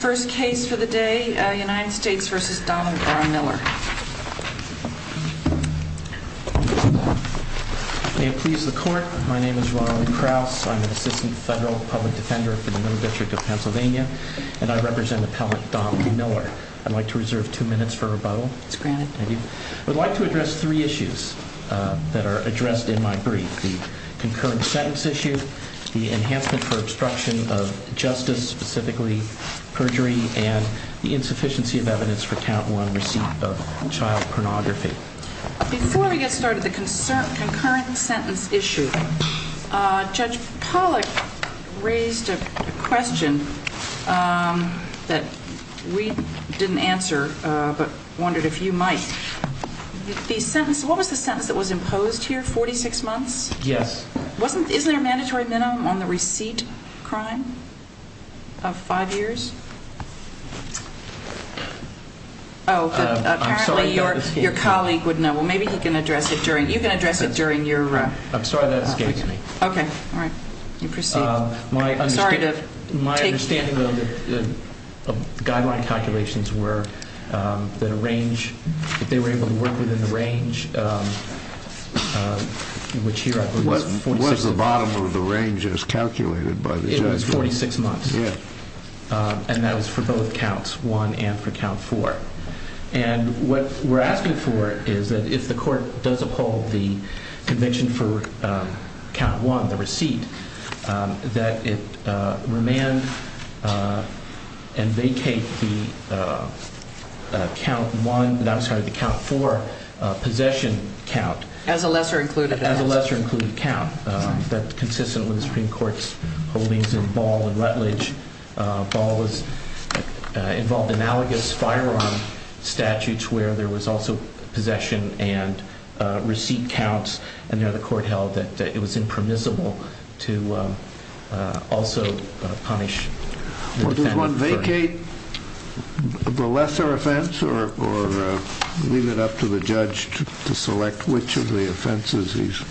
First case for the day, United States v. Donald R. Miller May it please the court, my name is Ronald Krauss, I'm an Assistant Federal Public Defender for the Middle District of Pennsylvania and I represent Appellant Don Miller. I'd like to reserve two minutes for rebuttal. It's granted. Thank you. I'd like to address three issues that are addressed in my brief. The concurrent sentence issue, the enhancement for obstruction of justice, specifically perjury, and the insufficiency of evidence for count one receipt of child pornography. Before we get started, the concurrent sentence issue, Judge Pollack raised a question that we didn't answer but wondered if you might. The sentence, what was the sentence that was imposed here, 46 months? Yes. Wasn't, isn't there a mandatory minimum on the receipt of crime of five years? Oh, good. I'm sorry that escaped me. Apparently your colleague would know. Well, maybe he can address it during, you can address it during your. I'm sorry that escaped me. Okay. All right. You proceed. My understanding of the guideline calculations were that a range, that they were able to work within the range, which here I believe was 46 months. What was the bottom of the range as calculated by the judge? It was 46 months. Yeah. And that was for both counts, one and for count four. And what we're asking for is that if the court does uphold the convention for count one, the receipt, that it remand and vacate the count one, I'm sorry, the count four possession count. As a lesser included. As a lesser included count that's consistent with the Supreme Court's holdings in Ball and Rutledge. Ball was involved in analogous firearm statutes where there was also possession and receipt counts. And there the court held that it was impermissible to also punish. Does one vacate the lesser offense or leave it up to the judge to select which of the offenses he's?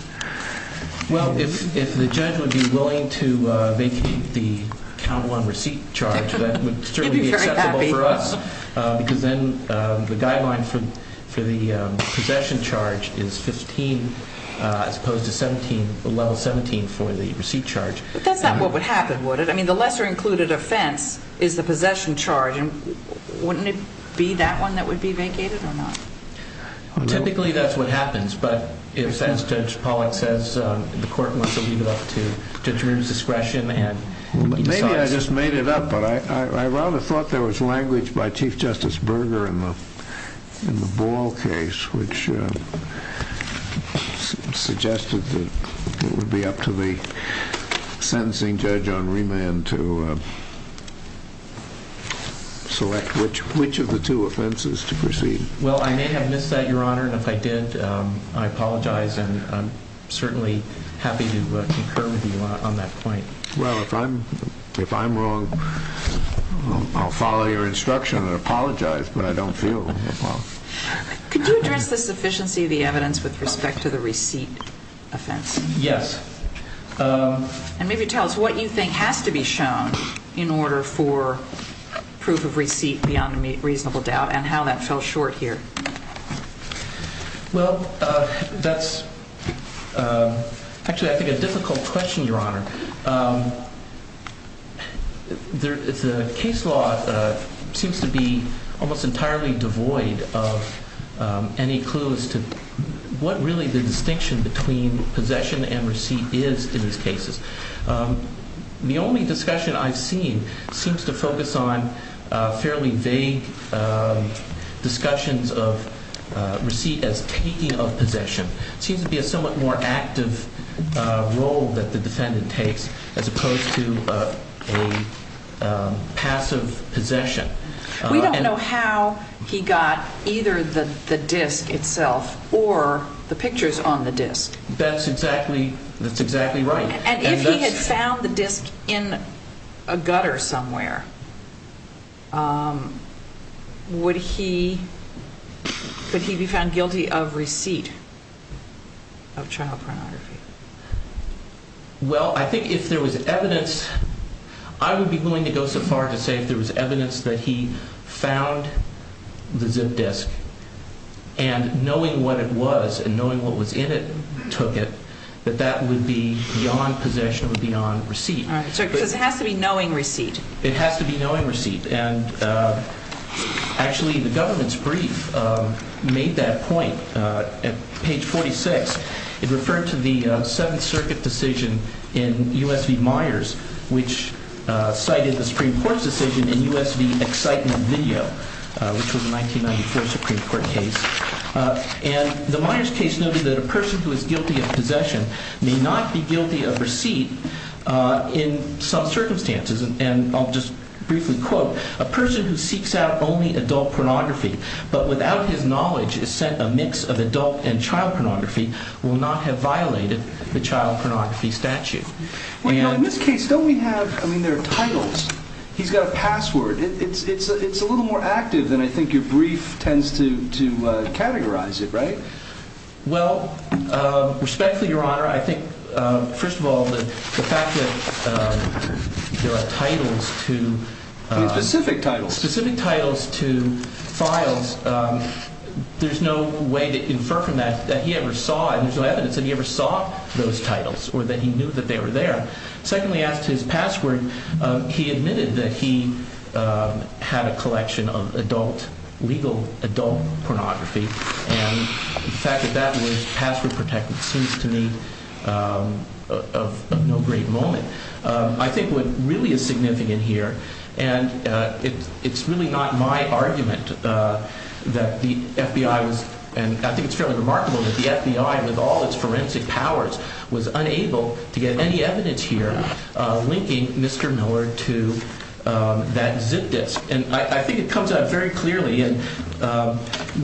Well, if the judge would be willing to vacate the count one receipt charge, that would certainly be acceptable for us. Because then the guideline for the possession charge is 15 as opposed to 17, level 17 for the receipt charge. But that's not what would happen, would it? I mean, the lesser included offense is the possession charge. And wouldn't it be that one that would be vacated or not? Typically, that's what happens. But as Judge Pollack says, the court wants to leave it up to Judge Reuben's discretion. Maybe I just made it up. But I rather thought there was language by Chief Justice Berger in the Ball case, which suggested that it would be up to the sentencing judge on remand to select which of the two offenses to proceed. Well, I may have missed that, Your Honor. And if I did, I apologize. And I'm certainly happy to concur with you on that point. Well, if I'm wrong, I'll follow your instruction and apologize. But I don't feel wrong. Could you address the sufficiency of the evidence with respect to the receipt offense? Yes. And maybe tell us what you think has to be shown in order for proof of receipt beyond a reasonable doubt and how that fell short here. Well, that's actually, I think, a difficult question, Your Honor. The case law seems to be almost entirely devoid of any clues to what really the distinction between possession and receipt is in these cases. The only discussion I've seen seems to focus on fairly vague discussions of receipt as taking of possession. It seems to be a somewhat more active role that the defendant takes as opposed to a passive possession. We don't know how he got either the disk itself or the pictures on the disk. That's exactly right. And if he had found the disk in a gutter somewhere, would he be found guilty of receipt of child pornography? Well, I think if there was evidence, I would be willing to go so far as to say if there was evidence that he found the zip disk, and knowing what it was and knowing what was in it, took it, that that would be beyond possession or beyond receipt. All right, so it has to be knowing receipt. It has to be knowing receipt. And actually, the government's brief made that point. At page 46, it referred to the Seventh Circuit decision in U.S. v. Myers, which cited the Supreme Court's decision in U.S. v. Excitement Video, which was a 1994 Supreme Court case. And the Myers case noted that a person who is guilty of possession may not be guilty of receipt in some circumstances. And I'll just briefly quote, a person who seeks out only adult pornography but without his knowledge is sent a mix of adult and child pornography will not have violated the child pornography statute. Well, you know, in this case, don't we have, I mean, there are titles. He's got a password. It's a little more active than I think your brief tends to categorize it, right? Well, respectfully, Your Honor, I think, first of all, the fact that there are titles to. Specific titles. Specific titles to files. There's no way to infer from that that he ever saw and there's no evidence that he ever saw those titles or that he knew that they were there. Secondly, as to his password, he admitted that he had a collection of adult, legal adult pornography. And the fact that that was password protected seems to me of no great moment. I think what really is significant here, and it's really not my argument that the FBI was, and I think it's fairly remarkable that the FBI, with all its forensic powers, was unable to get any evidence here linking Mr. Miller to that zip disk. And I think it comes out very clearly, and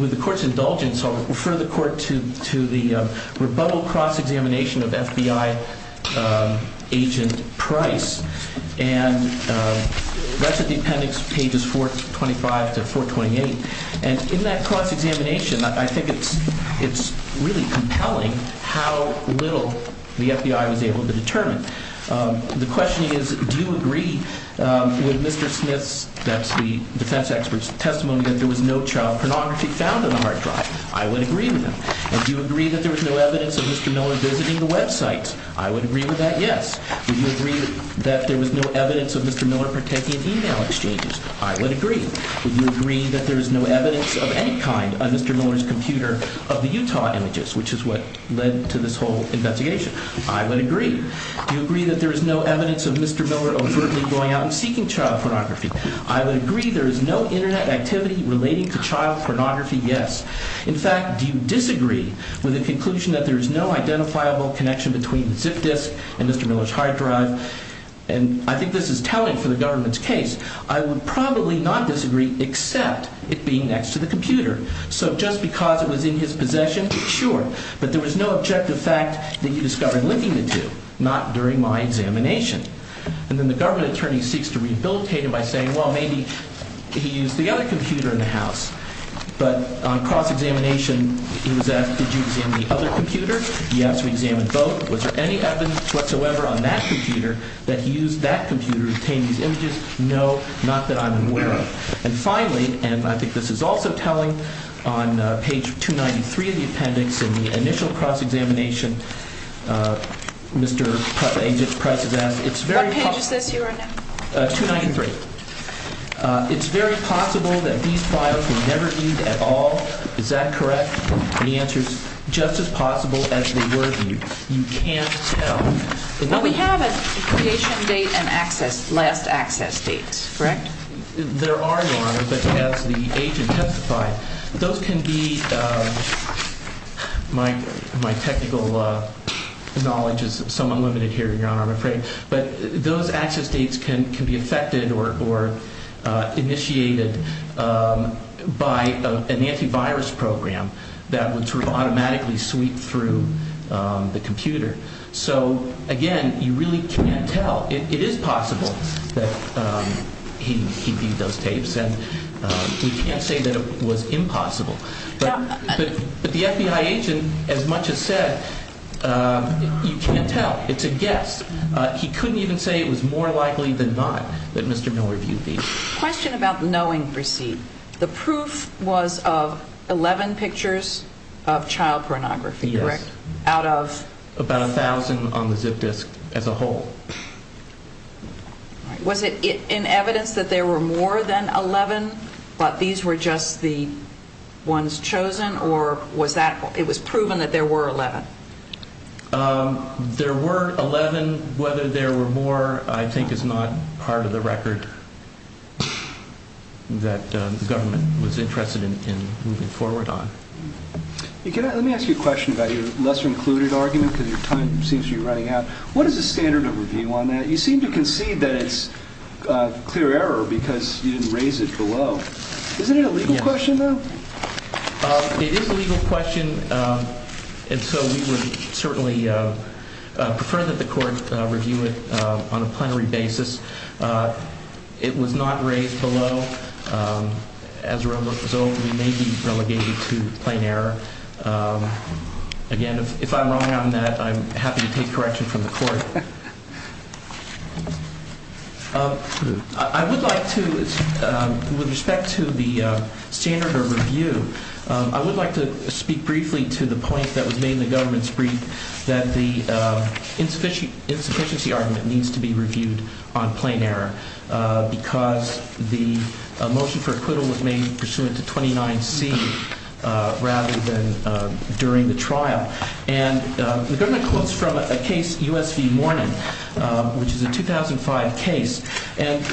with the Court's indulgence, I'll refer the Court to the rebuttal cross-examination of FBI agent Price. And that's at the appendix pages 425 to 428. And in that cross-examination, I think it's really compelling how little the FBI was able to determine. The question is, do you agree with Mr. Smith's – that's the defense expert's – testimony that there was no child pornography found on the hard drive? I would agree with that. And do you agree that there was no evidence of Mr. Miller visiting the website? I would agree with that, yes. Would you agree that there was no evidence of Mr. Miller partaking in email exchanges? I would agree. Would you agree that there is no evidence of any kind on Mr. Miller's computer of the Utah images, which is what led to this whole investigation? I would agree. Do you agree that there is no evidence of Mr. Miller overtly going out and seeking child pornography? I would agree there is no Internet activity relating to child pornography, yes. In fact, do you disagree with the conclusion that there is no identifiable connection between the zip disk and Mr. Miller's hard drive? And I think this is telling for the government's case. I would probably not disagree, except it being next to the computer. So just because it was in his possession, sure. But there was no objective fact that you discovered linking the two, not during my examination. And then the government attorney seeks to rehabilitate him by saying, well, maybe he used the other computer in the house. But on cross-examination, he was asked, did you examine the other computer? He asked, we examined both. Was there any evidence whatsoever on that computer that he used that computer to obtain these images? No, not that I'm aware of. And finally, and I think this is also telling, on page 293 of the appendix in the initial cross-examination, Mr. Price has asked, it's very possible. What page is this you are on now? 293. It's very possible that these files were never viewed at all. Is that correct? Any answers? Just as possible as they were viewed. You can't tell. What we have is creation date and access, last access dates, correct? There are, Your Honor, but as the age intensified, those can be, my technical knowledge is somewhat limited here, Your Honor, I'm afraid. But those access dates can be affected or initiated by an antivirus program that would sort of automatically sweep through the computer. So, again, you really can't tell. It is possible that he viewed those tapes, and we can't say that it was impossible. But the FBI agent, as much as said, you can't tell. It's a guess. He couldn't even say it was more likely than not that Mr. Miller viewed these. Question about knowing receipt. Yes. Out of? About 1,000 on the zip disk as a whole. Was it in evidence that there were more than 11, but these were just the ones chosen, or was that, it was proven that there were 11? There were 11. Whether there were more, I think, is not part of the record that the government was interested in moving forward on. Let me ask you a question about your lesser included argument, because your time seems to be running out. What is the standard of review on that? You seem to concede that it's clear error because you didn't raise it below. Isn't it a legal question, though? It is a legal question, and so we would certainly prefer that the court review it on a plenary basis. It was not raised below. As a result, we may be relegated to plain error. Again, if I'm wrong on that, I'm happy to take correction from the court. I would like to, with respect to the standard of review, I would like to speak briefly to the point that was made in the government's brief, that the insufficiency argument needs to be reviewed on plain error because the motion for acquittal was made pursuant to 29C rather than during the trial. The government quotes from a case, U.S. v. Morning, which is a 2005 case.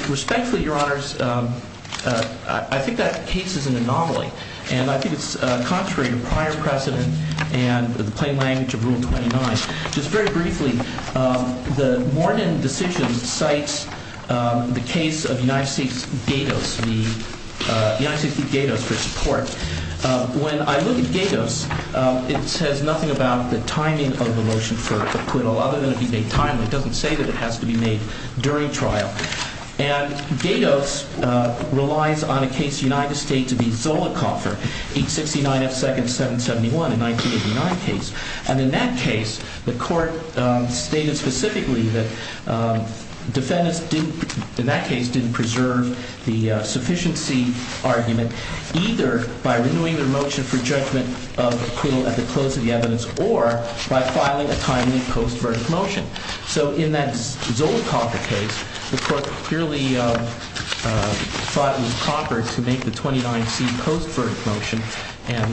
Respectfully, Your Honors, I think that case is an anomaly. And I think it's contrary to prior precedent and the plain language of Rule 29. Just very briefly, the Morning decision cites the case of United States v. Gatos for support. When I look at Gatos, it says nothing about the timing of the motion for acquittal other than it be made timely. It doesn't say that it has to be made during trial. And Gatos relies on a case, United States v. Zollicoffer, 869 F. Second 771, a 1989 case. And in that case, the court stated specifically that defendants in that case didn't preserve the sufficiency argument either by renewing their motion for judgment of acquittal at the close of the evidence or by filing a timely post-verdict motion. So in that Zollicoffer case, the court clearly thought it was proper to make the 29C post-verdict motion and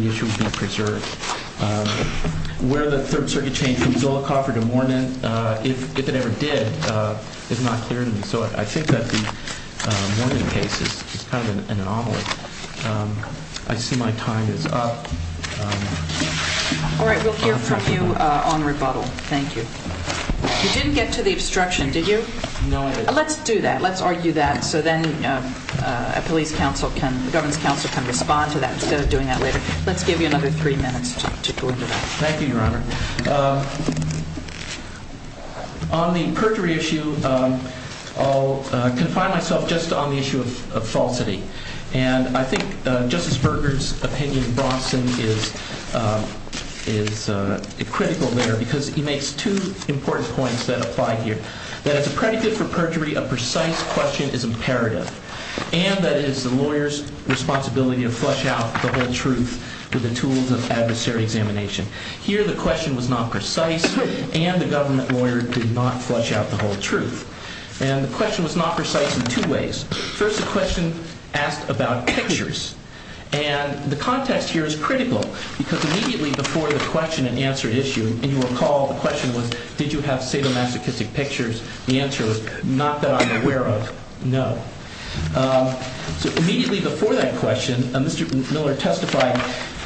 the issue be preserved. Where the Third Circuit changed from Zollicoffer to Morning, if it ever did, is not clear to me. So I think that the Morning case is kind of an anomaly. I see my time is up. All right. We'll hear from you on rebuttal. Thank you. You didn't get to the obstruction, did you? No, I didn't. Let's do that. Let's argue that. So then the government's counsel can respond to that instead of doing that later. Let's give you another three minutes to go into that. Thank you, Your Honor. On the perjury issue, I'll confine myself just on the issue of falsity. And I think Justice Berger's opinion in Bronson is critical there because he makes two important points that apply here. That as a predicate for perjury, a precise question is imperative. And that it is the lawyer's responsibility to flush out the whole truth with the tools of adversary examination. Here the question was not precise and the government lawyer did not flush out the whole truth. First the question asked about pictures. And the context here is critical because immediately before the question and answer issue, and you recall the question was, did you have sadomasochistic pictures? The answer was, not that I'm aware of, no. So immediately before that question, Mr. Miller testified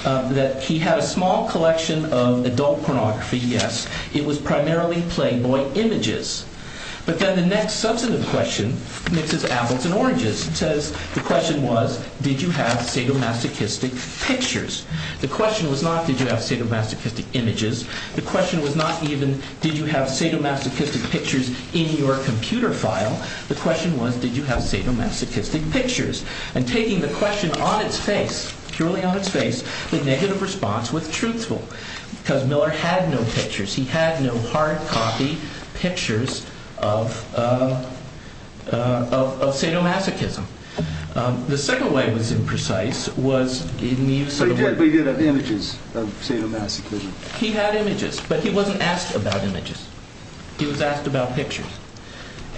that he had a small collection of adult pornography, yes. It was primarily playboy images. But then the next substantive question mixes apples and oranges. It says, the question was, did you have sadomasochistic pictures? The question was not, did you have sadomasochistic images? The question was not even, did you have sadomasochistic pictures in your computer file? The question was, did you have sadomasochistic pictures? And taking the question on its face, purely on its face, with negative response, with truthful. Because Miller had no pictures. He had no hard copy pictures of sadomasochism. The second way it was imprecise was in the use of the word. But he did have images of sadomasochism. He had images, but he wasn't asked about images. He was asked about pictures.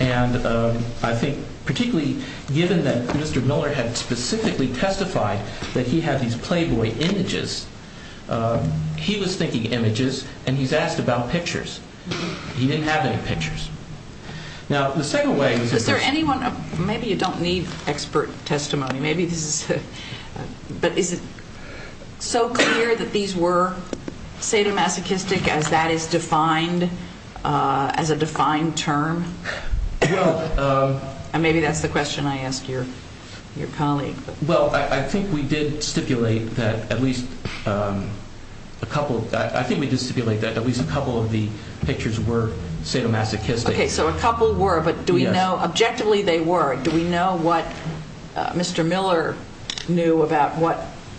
And I think particularly given that Mr. Miller had specifically testified that he had these playboy images, he was thinking images, and he's asked about pictures. He didn't have any pictures. Now, the second way was... Is there anyone, maybe you don't need expert testimony, maybe this is... But is it so clear that these were sadomasochistic as that is defined, as a defined term? Well... And maybe that's the question I ask your colleague. Well, I think we did stipulate that at least a couple of... I think we did stipulate that at least a couple of the pictures were sadomasochistic. Okay, so a couple were, but do we know... Yes. Objectively, they were. Do we know what Mr. Miller knew about what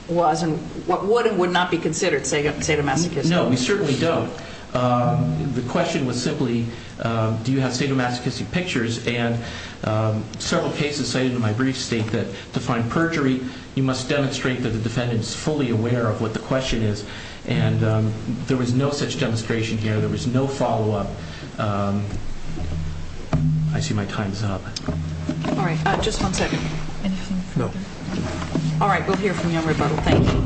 was and what would and would not be considered sadomasochistic? No, we certainly don't. The question was simply, do you have sadomasochistic pictures? And several cases cited in my brief state that to find perjury, you must demonstrate that the defendant is fully aware of what the question is. And there was no such demonstration here. There was no follow-up. I see my time's up. All right, just one second. Anything further? No. All right, we'll hear from you on rebuttal. Thank you.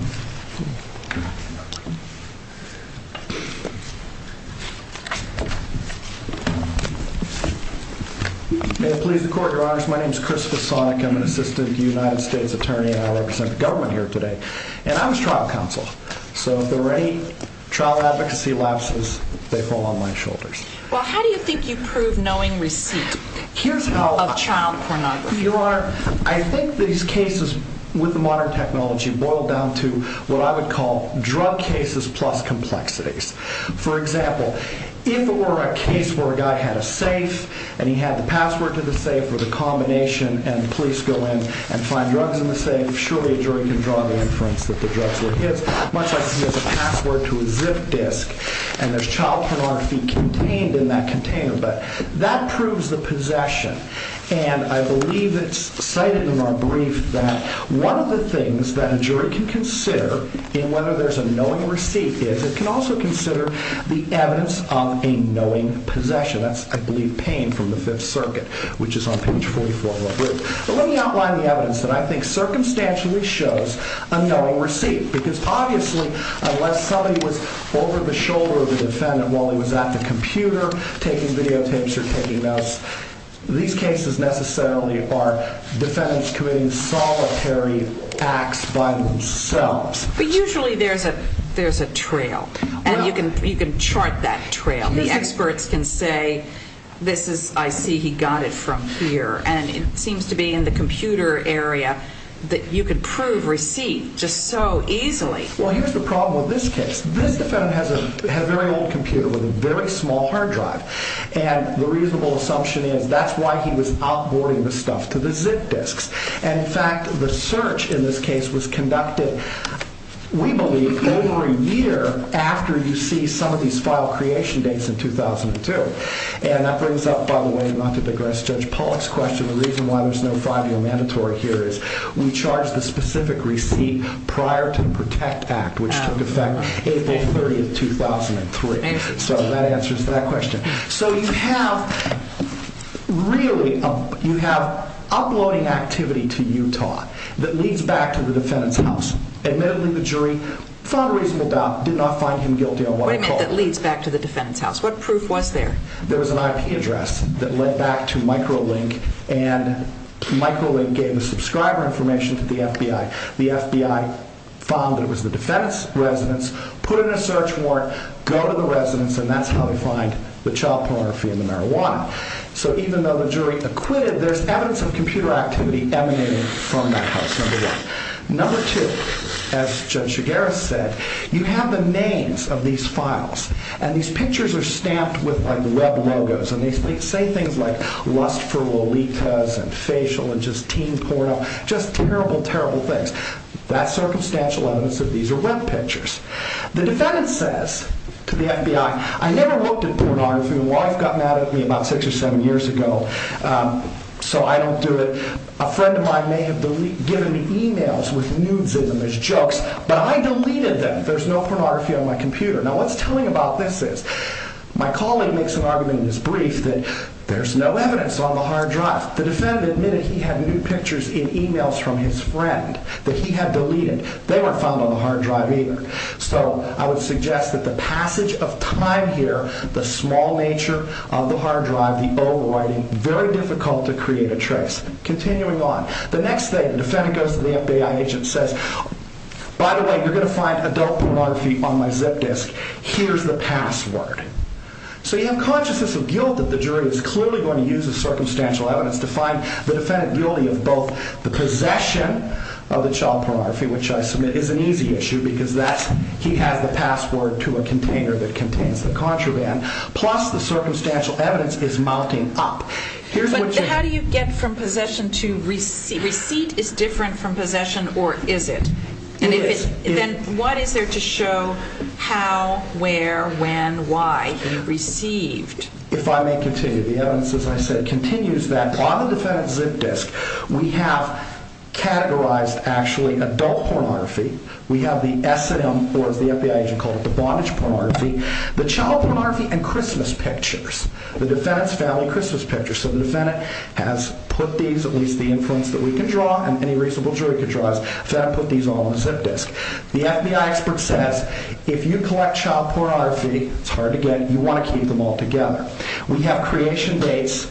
May it please the Court, Your Honors, my name is Christopher Sonic. I'm an assistant United States attorney, and I represent the government here today. And I was trial counsel. So if there were any trial advocacy lapses, they fall on my shoulders. Well, how do you think you prove knowing receipt of child pornography? Your Honor, I think these cases, with the modern technology, boil down to what I would call drug cases plus complexities. For example, if it were a case where a guy had a safe, and he had the password to the safe with a combination, and the police go in and find drugs in the safe, surely a jury can draw the inference that the drugs were his, much like he has a password to a zip disk, and there's child pornography contained in that container. But that proves the possession. And I believe it's cited in our brief that one of the things that a jury can consider in whether there's a knowing receipt is it can also consider the evidence of a knowing possession. That's, I believe, Payne from the Fifth Circuit, which is on page 44 of our brief. But let me outline the evidence that I think circumstantially shows a knowing receipt. Because obviously, unless somebody was over the shoulder of the defendant while he was at the computer taking videotapes or taking notes, these cases necessarily are defendants committing solitary acts by themselves. But usually there's a trail, and you can chart that trail. The experts can say, I see he got it from here, and it seems to be in the computer area that you can prove receipt just so easily. Well, here's the problem with this case. This defendant has a very old computer with a very small hard drive, and the reasonable assumption is that's why he was outboarding the stuff to the ZIP disks. In fact, the search in this case was conducted, we believe, over a year after you see some of these file creation dates in 2002. And that brings up, by the way, not to digress, Judge Pollack's question. The reason why there's no 5-year mandatory here is we charged the specific receipt prior to the PROTECT Act, which took effect April 30, 2003. So that answers that question. So you have, really, you have uploading activity to Utah that leads back to the defendant's house. Admittedly, the jury found a reasonable doubt, did not find him guilty on what I'm told. What do you mean that leads back to the defendant's house? What proof was there? There was an IP address that led back to Microlink, and Microlink gave the subscriber information to the FBI. The FBI found that it was the defendant's residence, put in a search warrant, go to the residence, and that's how they find the child pornography and the marijuana. So even though the jury acquitted, there's evidence of computer activity emanating from that house, number one. Number two, as Judge Shigera said, you have the names of these files, and these pictures are stamped with web logos, and they say things like lust for lolitas and facial and just teen porno, just terrible, terrible things. That's circumstantial evidence that these are web pictures. The defendant says to the FBI, I never looked at pornography. My wife got mad at me about six or seven years ago, so I don't do it. A friend of mine may have given me emails with nudes in them as jokes, but I deleted them. There's no pornography on my computer. Now what's telling about this is, my colleague makes an argument in his brief that there's no evidence on the hard drive. The defendant admitted he had nude pictures in emails from his friend that he had deleted. They weren't found on the hard drive either. So I would suggest that the passage of time here, the small nature of the hard drive, the overwriting, very difficult to create a trace. Continuing on. The next thing, the defendant goes to the FBI agent and says, by the way, you're going to find adult pornography on my zip disk. Here's the password. So you have consciousness of guilt that the jury is clearly going to use this circumstantial evidence to find the defendant guilty of both the possession of the child pornography, which I submit is an easy issue because he has the password to a container that contains the contraband, plus the circumstantial evidence is mounting up. But how do you get from possession to receipt? Receipt is different from possession, or is it? It is. Then what is there to show how, where, when, why he received? If I may continue, the evidence, as I said, continues that on the defendant's zip disk, we have categorized, actually, adult pornography. We have the S&M, or as the FBI agent called it, the bondage pornography, the child pornography, and Christmas pictures, the defendant's family Christmas pictures. So the defendant has put these, at least the inference that we can draw and any reasonable jury could draw is the defendant put these on the zip disk. The FBI expert says, if you collect child pornography, it's hard to get. You want to keep them all together. We have creation dates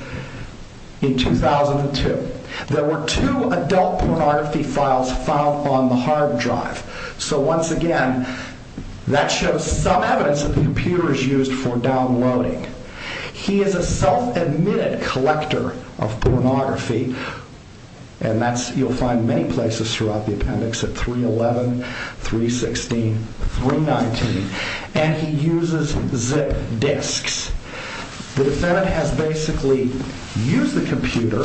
in 2002. There were two adult pornography files found on the hard drive. So once again, that shows some evidence that the computer is used for downloading. He is a self-admitted collector of pornography, and that's, you'll find many places throughout the appendix at 311, 316, 319, and he uses zip disks. The defendant has basically used the computer,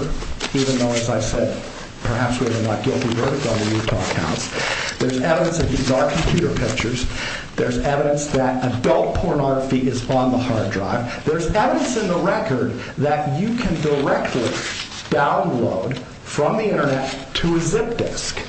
even though, as I said, perhaps we're in that guilty verdict on the Utah counts. There's evidence that these are computer pictures. There's evidence that adult pornography is on the hard drive. There's evidence in the record that you can directly download from the Internet to a zip disk.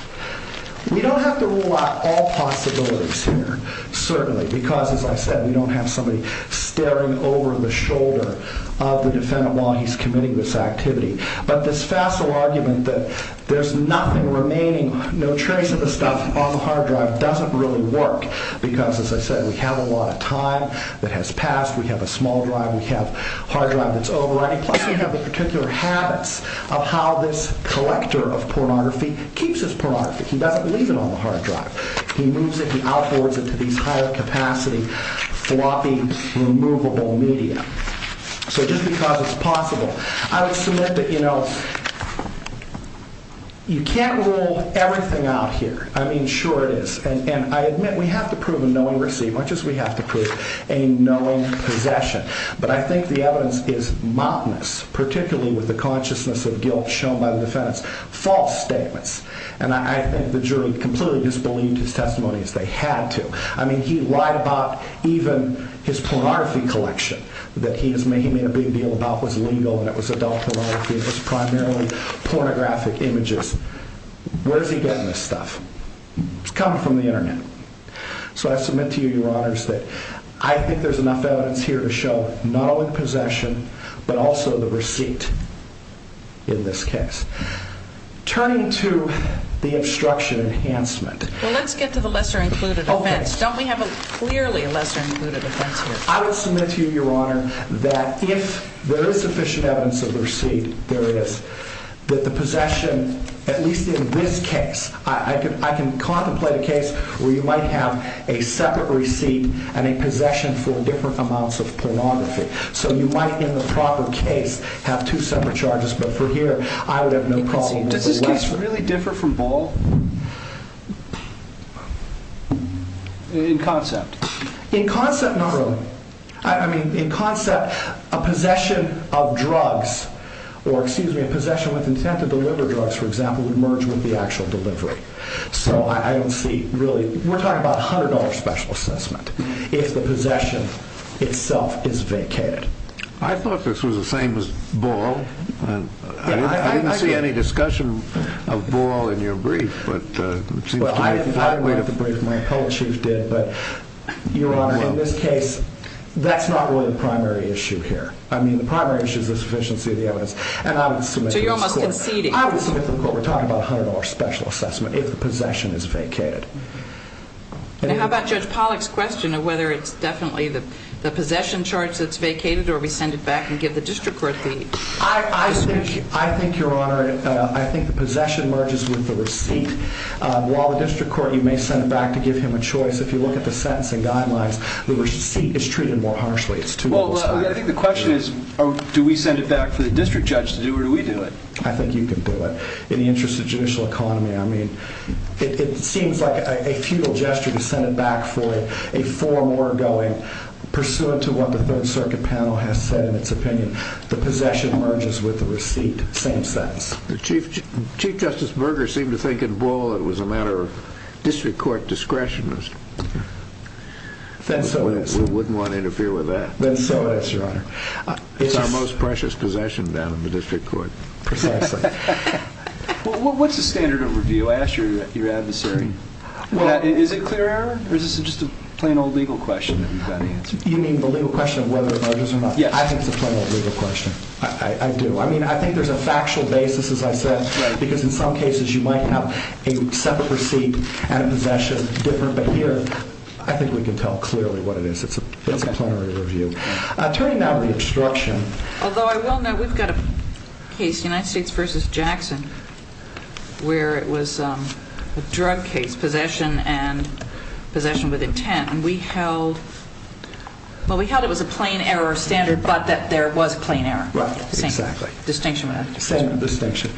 We don't have to rule out all possibilities here, certainly, because, as I said, we don't have somebody staring over the shoulder of the defendant while he's committing this activity. But this facile argument that there's nothing remaining, no trace of the stuff on the hard drive doesn't really work, because, as I said, we have a lot of time that has passed. We have a small drive. We have a hard drive that's overwriting. Plus, we have the particular habits of how this collector of pornography keeps his pornography. He doesn't leave it on the hard drive. He moves it and outboards it to these higher-capacity, floppy, removable media. So just because it's possible. I would submit that, you know, you can't rule everything out here. I mean, sure it is. And I admit we have to prove a knowing receipt, much as we have to prove a knowing possession. But I think the evidence is mountainous, particularly with the consciousness of guilt shown by the defendant's false statements. And I think the jury completely disbelieved his testimony, as they had to. I mean, he lied about even his pornography collection that he made a big deal about was legal and it was adult pornography. It was primarily pornographic images. It's coming from the Internet. So I submit to you, Your Honors, that I think there's enough evidence here to show not only possession, but also the receipt in this case. Turning to the obstruction enhancement. Well, let's get to the lesser-included offense. Don't we have clearly a lesser-included offense here? I would submit to you, Your Honor, that if there is sufficient evidence of the receipt, there is. That the possession, at least in this case, I can contemplate a case where you might have a separate receipt and a possession for different amounts of pornography. So you might, in the proper case, have two separate charges. But for here, I would have no problem with the lesser. Does this case really differ from Ball in concept? In concept, not really. I mean, in concept, a possession of drugs, or, excuse me, a possession with intent to deliver drugs, for example, would merge with the actual delivery. So I don't see, really, we're talking about $100 special assessment if the possession itself is vacated. I thought this was the same as Ball. I didn't see any discussion of Ball in your brief. Well, I didn't write the brief. My appellate chief did. But, Your Honor, in this case, that's not really the primary issue here. I mean, the primary issue is the sufficiency of the evidence. So you're almost conceding. I would submit to the court we're talking about $100 special assessment if the possession is vacated. Now, how about Judge Pollack's question of whether it's definitely the possession charge that's vacated or we send it back and give the district court the position? I think, Your Honor, I think the possession merges with the receipt. While the district court, you may send it back to give him a choice, if you look at the sentencing guidelines, the receipt is treated more harshly. It's two levels higher. Well, I think the question is, do we send it back for the district judge to do, or do we do it? I think you can do it. In the interest of judicial economy, I mean, it seems like a futile gesture to send it back for a forum we're going. Pursuant to what the Third Circuit panel has said in its opinion, the possession merges with the receipt. Same sentence. Chief Justice Berger seemed to think it was a matter of district court discretion. Then so it is. We wouldn't want to interfere with that. Then so it is, Your Honor. It's our most precious possession down in the district court. Precisely. What's the standard of review, I ask your adversary? Is it clear error, or is this just a plain old legal question that you've got to answer? You mean the legal question of whether it merges or not? Yeah, I think it's a plain old legal question. I do. I mean, I think there's a factual basis, as I said, because in some cases you might have a separate receipt and a possession different, but here I think we can tell clearly what it is. It's a plenary review. Turning now to the obstruction. Although I will note we've got a case, United States v. Jackson, where it was a drug case, possession and possession with intent, and we held it was a plain error standard, but that there was a plain error. Right, exactly. Same distinction. Same distinction.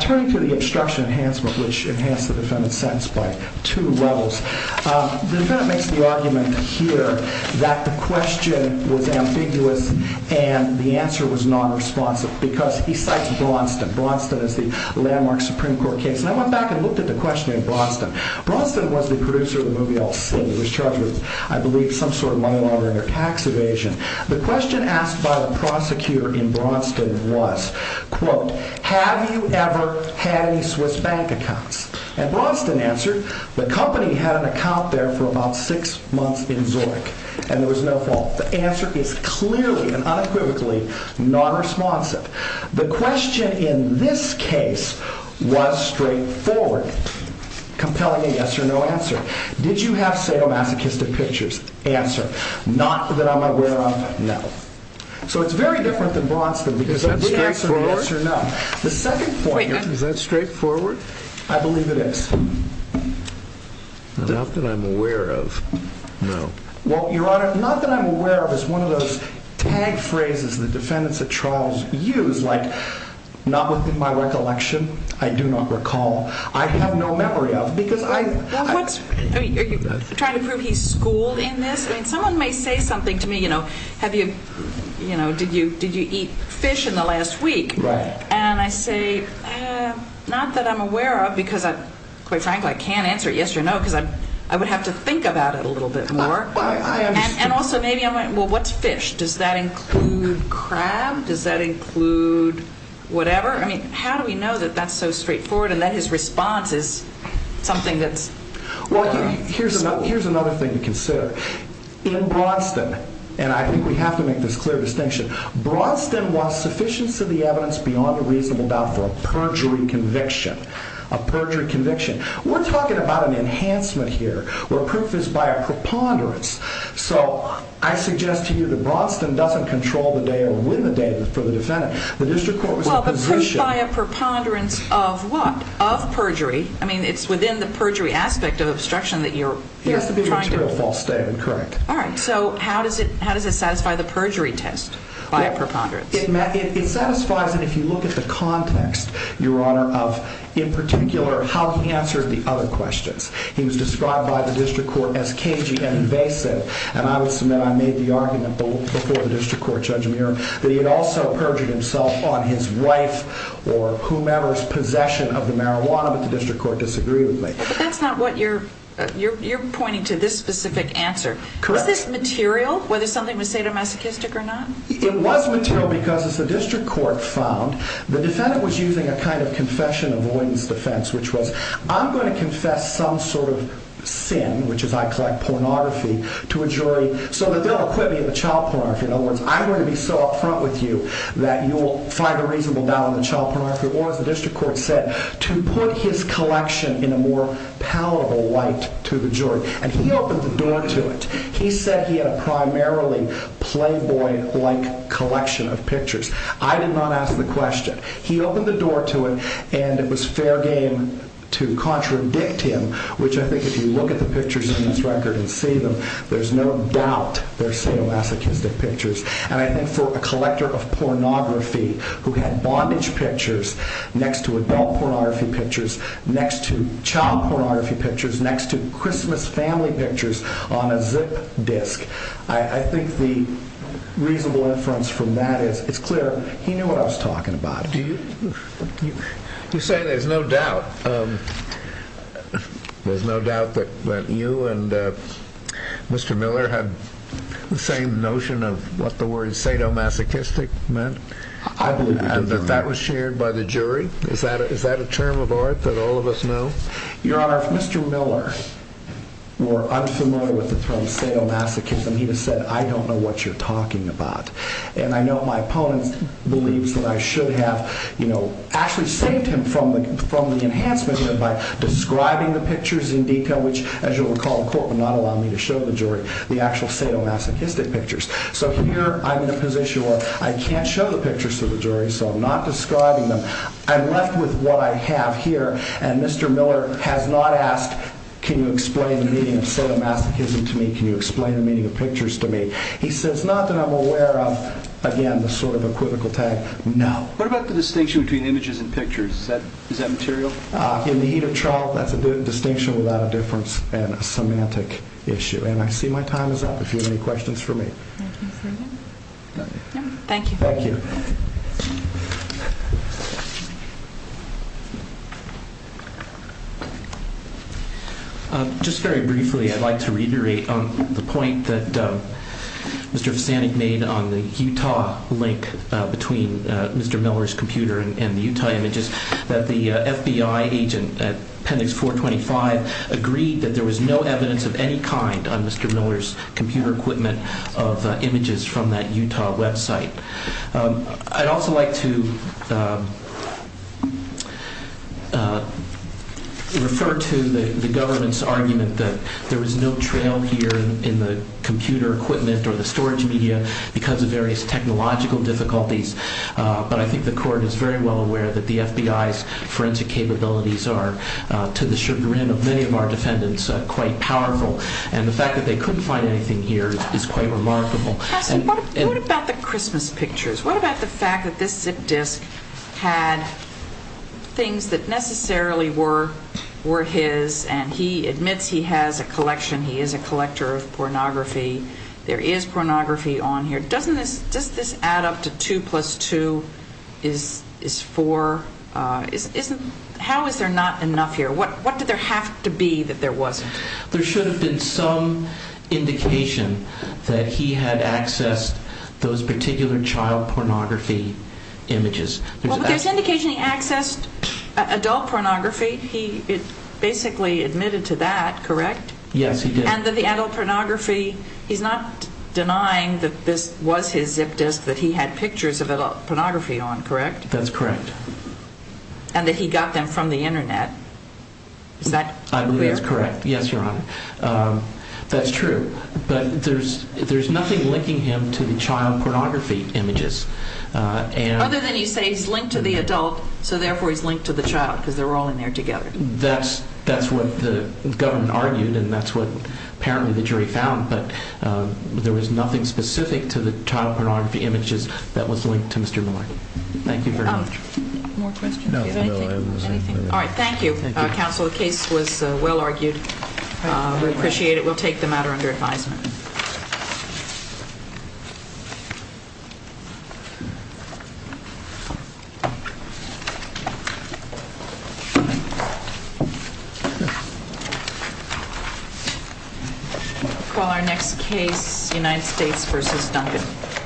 Turning to the obstruction enhancement, which enhanced the defendant's sentence by two levels, the defendant makes the argument here that the question was ambiguous and the answer was nonresponsive because he cites Braunston. Braunston is the landmark Supreme Court case. And I went back and looked at the question in Braunston. Braunston was the producer of the movie All Seen. He was charged with, I believe, some sort of money laundering or tax evasion. The question asked by the prosecutor in Braunston was, quote, have you ever had any Swiss bank accounts? And Braunston answered, the company had an account there for about six months in Zurich, and there was no fault. The answer is clearly and unequivocally nonresponsive. The question in this case was straightforward, compelling a yes or no answer. Did you have sadomasochistic pictures? Answer, not that I'm aware of, no. So it's very different than Braunston because everybody answered yes or no. Is that straightforward? The second point here. Is that straightforward? I believe it is. Not that I'm aware of, no. Well, Your Honor, not that I'm aware of is one of those tag phrases the defendants at trial use, like not within my recollection, I do not recall, I have no memory of, because I... Are you trying to prove he's schooled in this? I mean, someone may say something to me, you know, have you, you know, did you eat fish in the last week? Right. And I say, not that I'm aware of because, quite frankly, I can't answer yes or no because I would have to think about it a little bit more. I understand. And also maybe I'm like, well, what's fish? Does that include crab? Does that include whatever? I mean, how do we know that that's so straightforward and that his response is something that's... Well, here's another thing to consider. In Braunston, and I think we have to make this clear distinction, Braunston wants sufficiency of the evidence beyond a reasonable doubt for a perjury conviction. A perjury conviction. We're talking about an enhancement here where proof is by a preponderance. So I suggest to you that Braunston doesn't control the day or win the day for the defendant. The district court was in a position... Well, but proof by a preponderance of what? Of perjury. I mean, it's within the perjury aspect of obstruction that you're trying to... Yes, the defendant's real false statement, correct. All right, so how does it satisfy the perjury test? By a preponderance. It satisfies it if you look at the context, Your Honor, of in particular how he answered the other questions. He was described by the district court as cagey and invasive, and I would submit I made the argument before the district court, Judge Muir, that he had also perjured himself on his wife or whomever's possession of the marijuana, but the district court disagreed with me. But that's not what you're... You're pointing to this specific answer. Correct. Was this material, whether something was sadomasochistic or not? It was material because, as the district court found, the defendant was using a kind of confession avoidance defense, which was I'm going to confess some sort of sin, which is, I collect pornography, to a jury so that they'll acquit me of the child pornography. In other words, I'm going to be so up front with you that you will find a reasonable doubt in the child pornography, or, as the district court said, to put his collection in a more palatable light to the jury. And he opened the door to it. He said he had a primarily playboy-like collection of pictures. I did not ask the question. He opened the door to it, and it was fair game to contradict him, which I think if you look at the pictures in his record and see them, there's no doubt they're sadomasochistic pictures. And I think for a collector of pornography, who had bondage pictures next to adult pornography pictures, next to child pornography pictures, next to Christmas family pictures on a zip disk, I think the reasonable inference from that is it's clear he knew what I was talking about. You say there's no doubt. There's no doubt that you and Mr. Miller had the same notion of what the word sadomasochistic meant? I believe we did, Your Honor. And that that was shared by the jury? Is that a term of art that all of us know? Your Honor, if Mr. Miller were unfamiliar with the term sadomasochism, he would have said, I don't know what you're talking about. And I know my opponent believes that I should have actually saved him from the enhancement by describing the pictures in detail, which, as you'll recall, the court would not allow me to show the jury the actual sadomasochistic pictures. So here I'm in a position where I can't show the pictures to the jury, so I'm not describing them. I'm left with what I have here, and Mr. Miller has not asked, can you explain the meaning of sadomasochism to me? Can you explain the meaning of pictures to me? He says, not that I'm aware of, again, the sort of equivocal tag. No. What about the distinction between images and pictures? Is that material? In the heat of trial, that's a distinction without a difference and a semantic issue. And I see my time is up. If you have any questions for me. Thank you. Thank you. Just very briefly, I'd like to reiterate the point that Mr. Visanic made on the Utah link between Mr. Miller's computer and the Utah images, that the FBI agent at Appendix 425 agreed that there was no evidence of any kind on Mr. Miller's computer equipment of images from that Utah website. I'd also like to refer to the government's argument that there was no trail here in the computer equipment or the storage media because of various technological difficulties, but I think the court is very well aware that the FBI's forensic capabilities are, to the chagrin of many of our defendants, quite powerful. And the fact that they couldn't find anything here is quite remarkable. What about the Christmas pictures? What about the fact that this zip disk had things that necessarily were his and he admits he has a collection, he is a collector of pornography. There is pornography on here. Doesn't this add up to two plus two is four? How is there not enough here? What did there have to be that there wasn't? There should have been some indication that he had accessed those particular child pornography images. Well, there's indication he accessed adult pornography. He basically admitted to that, correct? Yes, he did. And that the adult pornography, he's not denying that this was his zip disk that he had pictures of adult pornography on, correct? That's correct. And that he got them from the internet. Is that clear? I believe that's correct. Yes, Your Honor. That's true. But there's nothing linking him to the child pornography images. Other than you say he's linked to the adult, so therefore he's linked to the child because they're all in there together. That's what the government argued and that's what apparently the jury found, but there was nothing specific to the child pornography images that was linked to Mr. Miller. Thank you very much. More questions? No, I have nothing. All right, thank you, counsel. The case was well argued. We appreciate it. We'll take the matter under advisement. We'll call our next case United States v. Duncan.